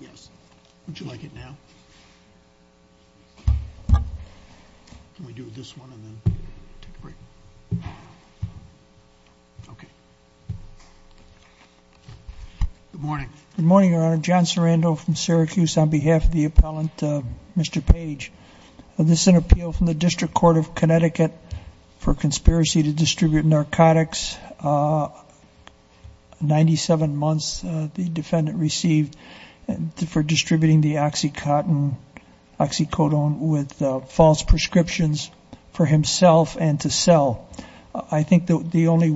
Yes, would you like it now? Can we do this one and then take a break? Okay. Good morning. Good morning, Your Honor. John Sarando from Syracuse on behalf of the appellant, Mr. Page. This is an appeal from the District Court of Connecticut for conspiracy to distribute narcotics. 97 months the defendant received for distributing the oxycodone with false prescriptions for himself and to sell. I think the only,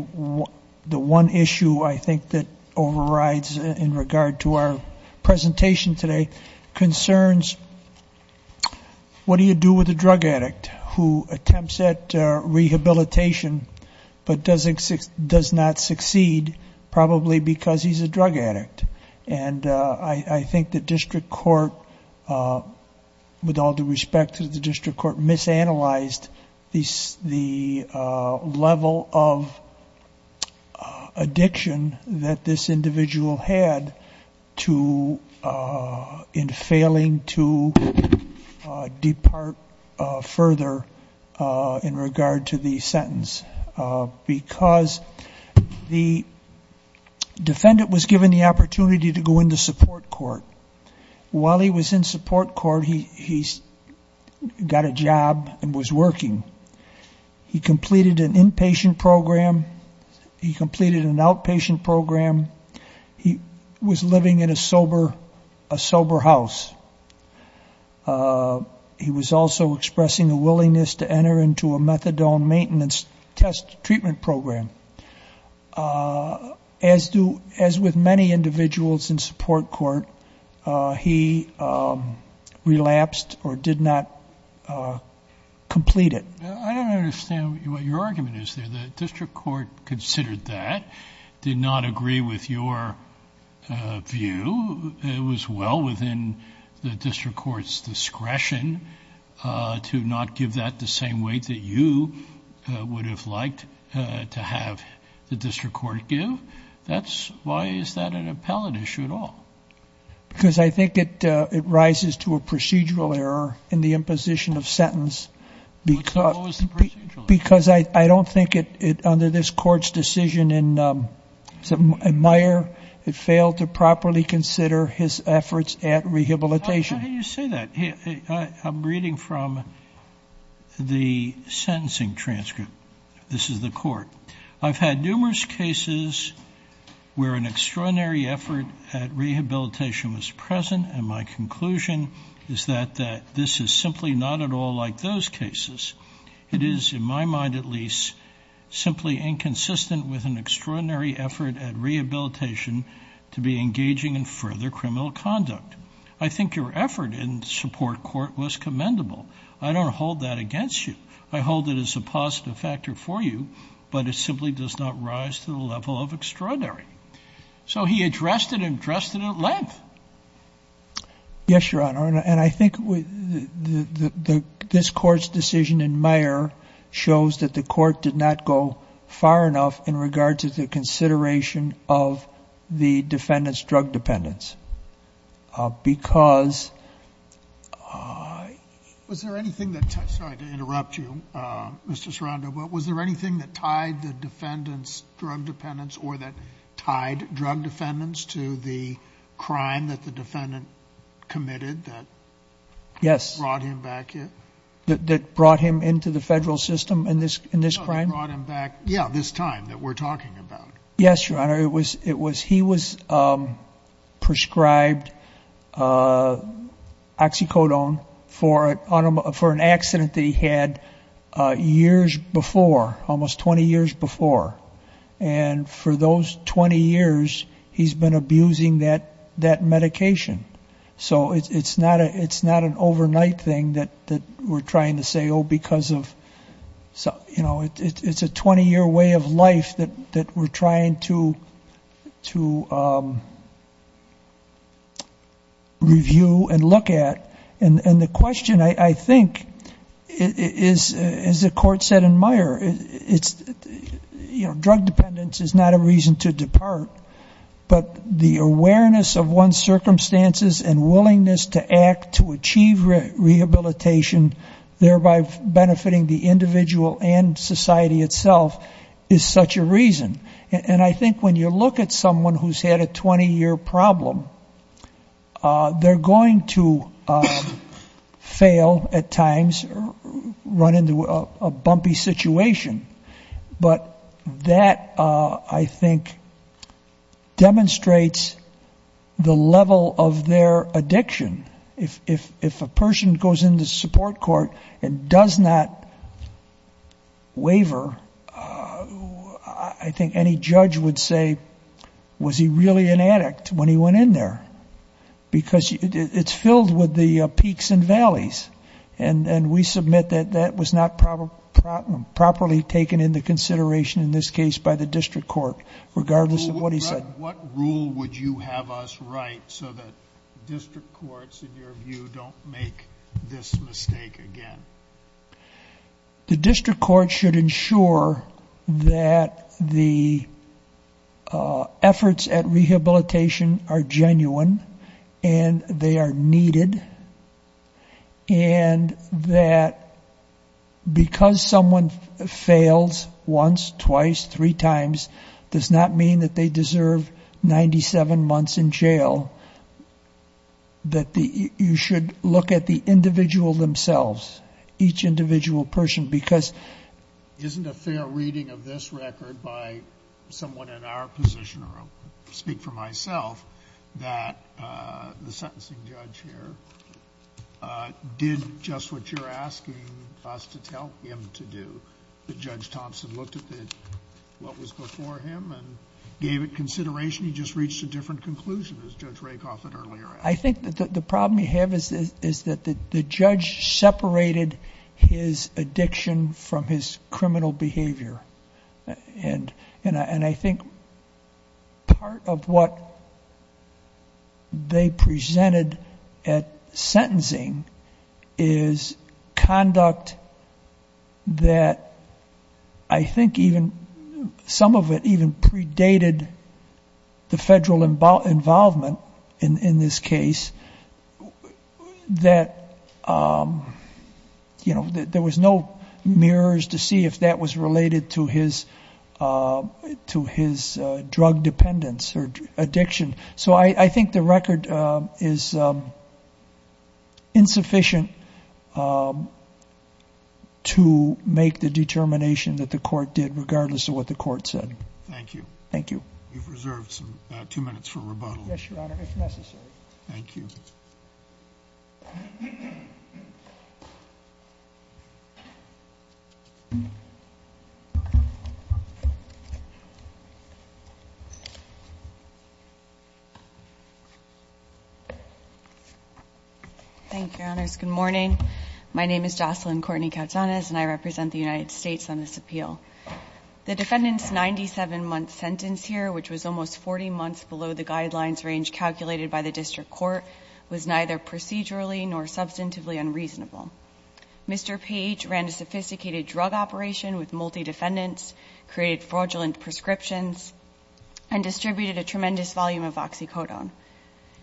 the one issue I think that overrides in regard to our presentation today concerns what do you do with a drug addict who attempts at rehabilitation but does not succeed probably because he's a drug addict. And I think the district court, with all due respect to the district court, misanalyzed the level of addiction that this individual had to, in failing to depart further in regard to the sentence. Because the defendant was given the opportunity to go into support court. While he was in support court, he got a job and was working. He completed an inpatient program. He completed an outpatient program. He was living in a sober house. He was also expressing a willingness to enter into a methadone maintenance test treatment program. As with many individuals in support court, he relapsed or did not complete it. I don't understand what your argument is there. The district court considered that, did not agree with your view. It was well within the district court's discretion to not give that the same weight that you would have liked to have the district court give. Why is that an appellate issue at all? Because I think it rises to a procedural error in the imposition of sentence. Because I don't think it, under this court's decision in Meyer, it failed to properly consider his efforts at rehabilitation. How can you say that? I'm reading from the sentencing transcript. This is the court. I've had numerous cases where an extraordinary effort at rehabilitation was present, and my conclusion is that this is simply not at all like those cases. It is, in my mind at least, simply inconsistent with an extraordinary effort at rehabilitation to be engaging in further criminal conduct. I think your effort in support court was commendable. I don't hold that against you. I hold it as a positive factor for you, but it simply does not rise to the level of extraordinary. So he addressed it and addressed it at length. Yes, Your Honor, and I think this court's decision in Meyer shows that the court did not go far enough in regard to the consideration of the defendant's drug dependence. Was there anything that tied the defendant's drug dependence or that tied drug dependence to the crime that the defendant committed that brought him back here? That brought him into the federal system in this crime? Yeah, this time that we're talking about. Yes, Your Honor. He was prescribed oxycodone for an accident that he had years before, almost 20 years before, and for those 20 years, he's been abusing that medication. So it's not an overnight thing that we're trying to say, oh, because of, you know, it's a 20-year way of life that we're trying to review and look at. And the question, I think, is, as the court said in Meyer, it's, you know, drug dependence is not a reason to depart, but the awareness of one's circumstances and willingness to act to achieve rehabilitation, thereby benefiting the individual and society itself, is such a reason. And I think when you look at someone who's had a 20-year problem, they're going to fail at times or run into a bumpy situation, but that, I think, demonstrates the level of their addiction. If a person goes into support court and does not waiver, I think any judge would say, was he really an addict when he went in there? Because it's filled with the peaks and valleys, and we submit that that was not properly taken into consideration in this case by the district court, regardless of what he said. What rule would you have us write so that district courts, in your view, don't make this mistake again? The district court should ensure that the efforts at rehabilitation are genuine and they are needed, and that because someone fails once, twice, three times, does not mean that they deserve 97 months in jail. That you should look at the individual themselves, each individual person, because... Isn't a fair reading of this record by someone in our position, or I'll speak for myself, that the sentencing judge here did just what you're asking us to tell him to do. The judge Thompson looked at what was before him and gave it consideration. He just reached a different conclusion, as Judge Rakoff had earlier. I think that the problem we have is that the judge separated his addiction from his criminal behavior. And I think part of what they presented at sentencing is conduct that I think even some of it even predated the federal involvement in this case. That there was no mirrors to see if that was related to his drug dependence or addiction. So I think the record is insufficient to make the determination that the court did, regardless of what the court said. Thank you. Thank you. You've reserved two minutes for rebuttal. Yes, Your Honor, if necessary. Thank you. Thank you, Your Honors. Good morning. My name is Jocelyn Courtney-Cautanez, and I represent the United States on this appeal. The defendant's 97-month sentence here, which was almost 40 months below the guidelines range calculated by the district court, was neither procedurally nor substantively unreasonable. Mr. Page ran a sophisticated drug operation with multi-defendants, created fraudulent prescriptions, and distributed a tremendous volume of oxycodone.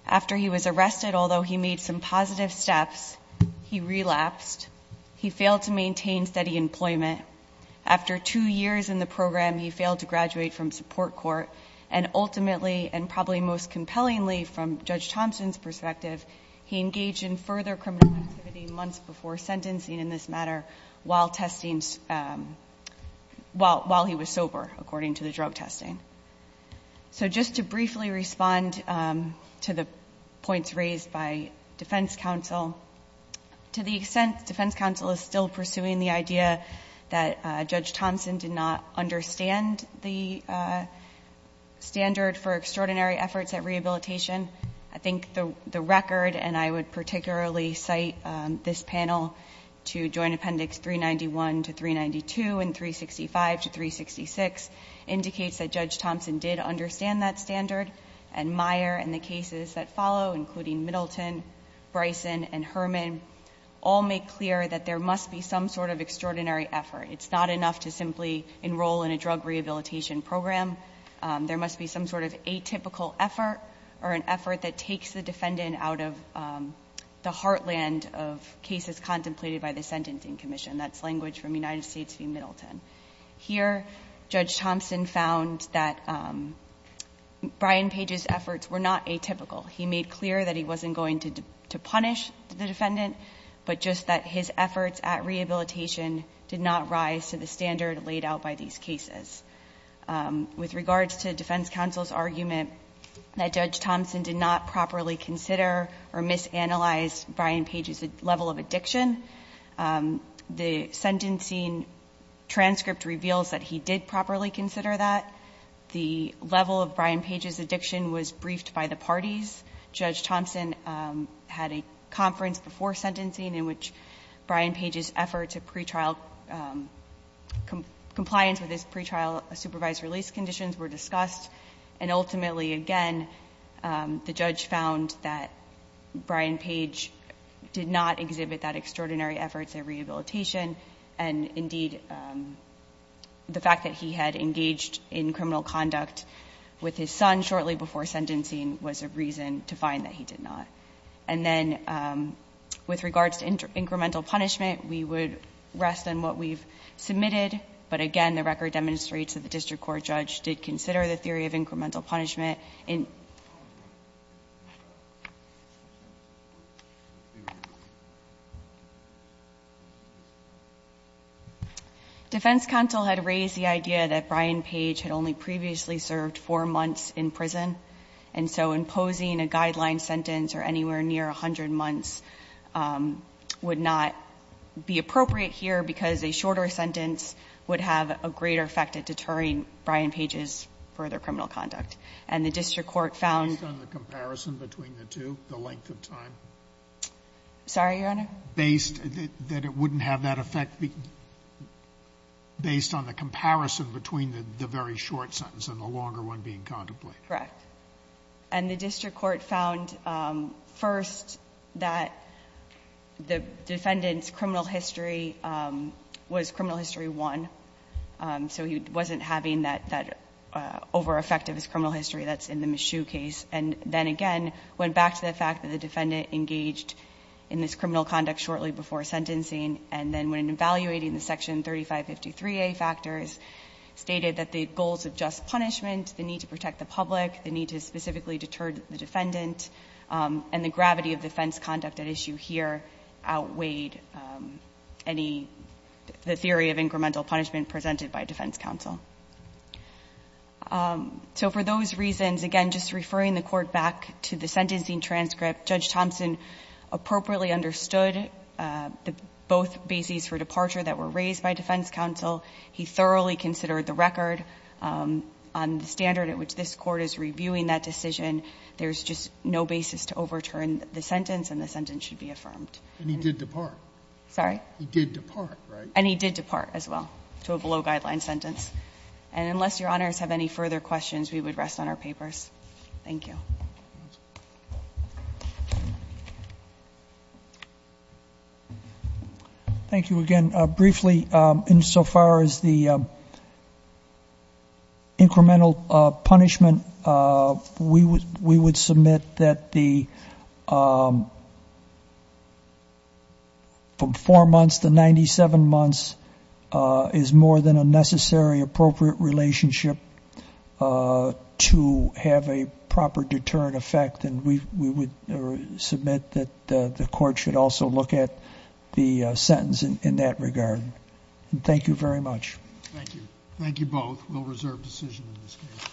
After he was arrested, although he made some positive steps, he relapsed, he failed to maintain steady employment. After two years in the program, he failed to graduate from support court. And ultimately, and probably most compellingly from Judge Thompson's perspective, he engaged in further criminal activity months before sentencing in this matter while he was sober, according to the drug testing. So just to briefly respond to the points raised by defense counsel, to the extent defense counsel is still pursuing the idea that Judge Thompson did not understand the standard for extraordinary efforts at rehabilitation, I think the record, and I would particularly cite this panel to Joint Appendix 391 to 392 and 365 to 366, indicates that Judge Thompson did understand that standard. And Meyer and the cases that follow, including Middleton, Bryson, and Herman, all make clear that there must be some sort of extraordinary effort. It's not enough to simply enroll in a drug rehabilitation program. There must be some sort of atypical effort or an effort that takes the defendant out of the heartland of cases contemplated by the Sentencing Commission. That's language from United States v. Middleton. Here, Judge Thompson found that Brian Page's efforts were not atypical. He made clear that he wasn't going to punish the defendant, but just that his efforts at rehabilitation did not rise to the standard laid out by these cases. With regards to defense counsel's argument that Judge Thompson did not properly consider or misanalyze Brian Page's level of addiction, the sentencing transcript reveals that he did properly consider that. The level of Brian Page's addiction was briefed by the parties. Judge Thompson had a conference before sentencing in which Brian Page's efforts of pre-trial compliance with his pre-trial supervised release conditions were discussed. And ultimately, again, the judge found that Brian Page did not exhibit that extraordinary efforts at rehabilitation. And, indeed, the fact that he had engaged in criminal conduct with his son shortly before sentencing was a reason to find that he did not. And then with regards to incremental punishment, we would rest on what we've submitted. But, again, the record demonstrates that the district court judge did consider the theory of incremental punishment. Defense counsel had raised the idea that Brian Page had only previously served four months in prison. And so imposing a guideline sentence or anywhere near 100 months would not be appropriate here because a shorter sentence would have a greater effect at deterring Brian Page's further criminal conduct. And the district court found the comparison between the two, the length of time. Sorry, Your Honor? Based that it wouldn't have that effect based on the comparison between the very short sentence and the longer one being contemplated. Correct. And the district court found, first, that the defendant's criminal history was criminal history one. So he wasn't having that over-effect of his criminal history that's in the Michoud case. And then, again, went back to the fact that the defendant engaged in this criminal conduct shortly before sentencing. And then when evaluating the section 3553A factors, stated that the goals of just punishment, the need to protect the public, the need to specifically deter the defendant, and the gravity of defense conduct at issue here outweighed the theory of incremental punishment presented by defense counsel. So for those reasons, again, just referring the court back to the sentencing transcript, Judge Thompson appropriately understood both bases for departure that were raised by defense counsel. He thoroughly considered the record on the standard at which this court is reviewing that decision. There's just no basis to overturn the sentence, and the sentence should be affirmed. And he did depart. Sorry? He did depart, right? And he did depart as well to a below-guideline sentence. And unless Your Honors have any further questions, we would rest on our papers. Thank you. Thank you again. Briefly, insofar as the incremental punishment, we would submit that from four months to 97 months is more than a necessary, appropriate relationship to have a proper deterrent effect. And we would submit that the court should also look at the sentence in that regard. Thank you very much. Thank you. Thank you both. We'll reserve decision in this case.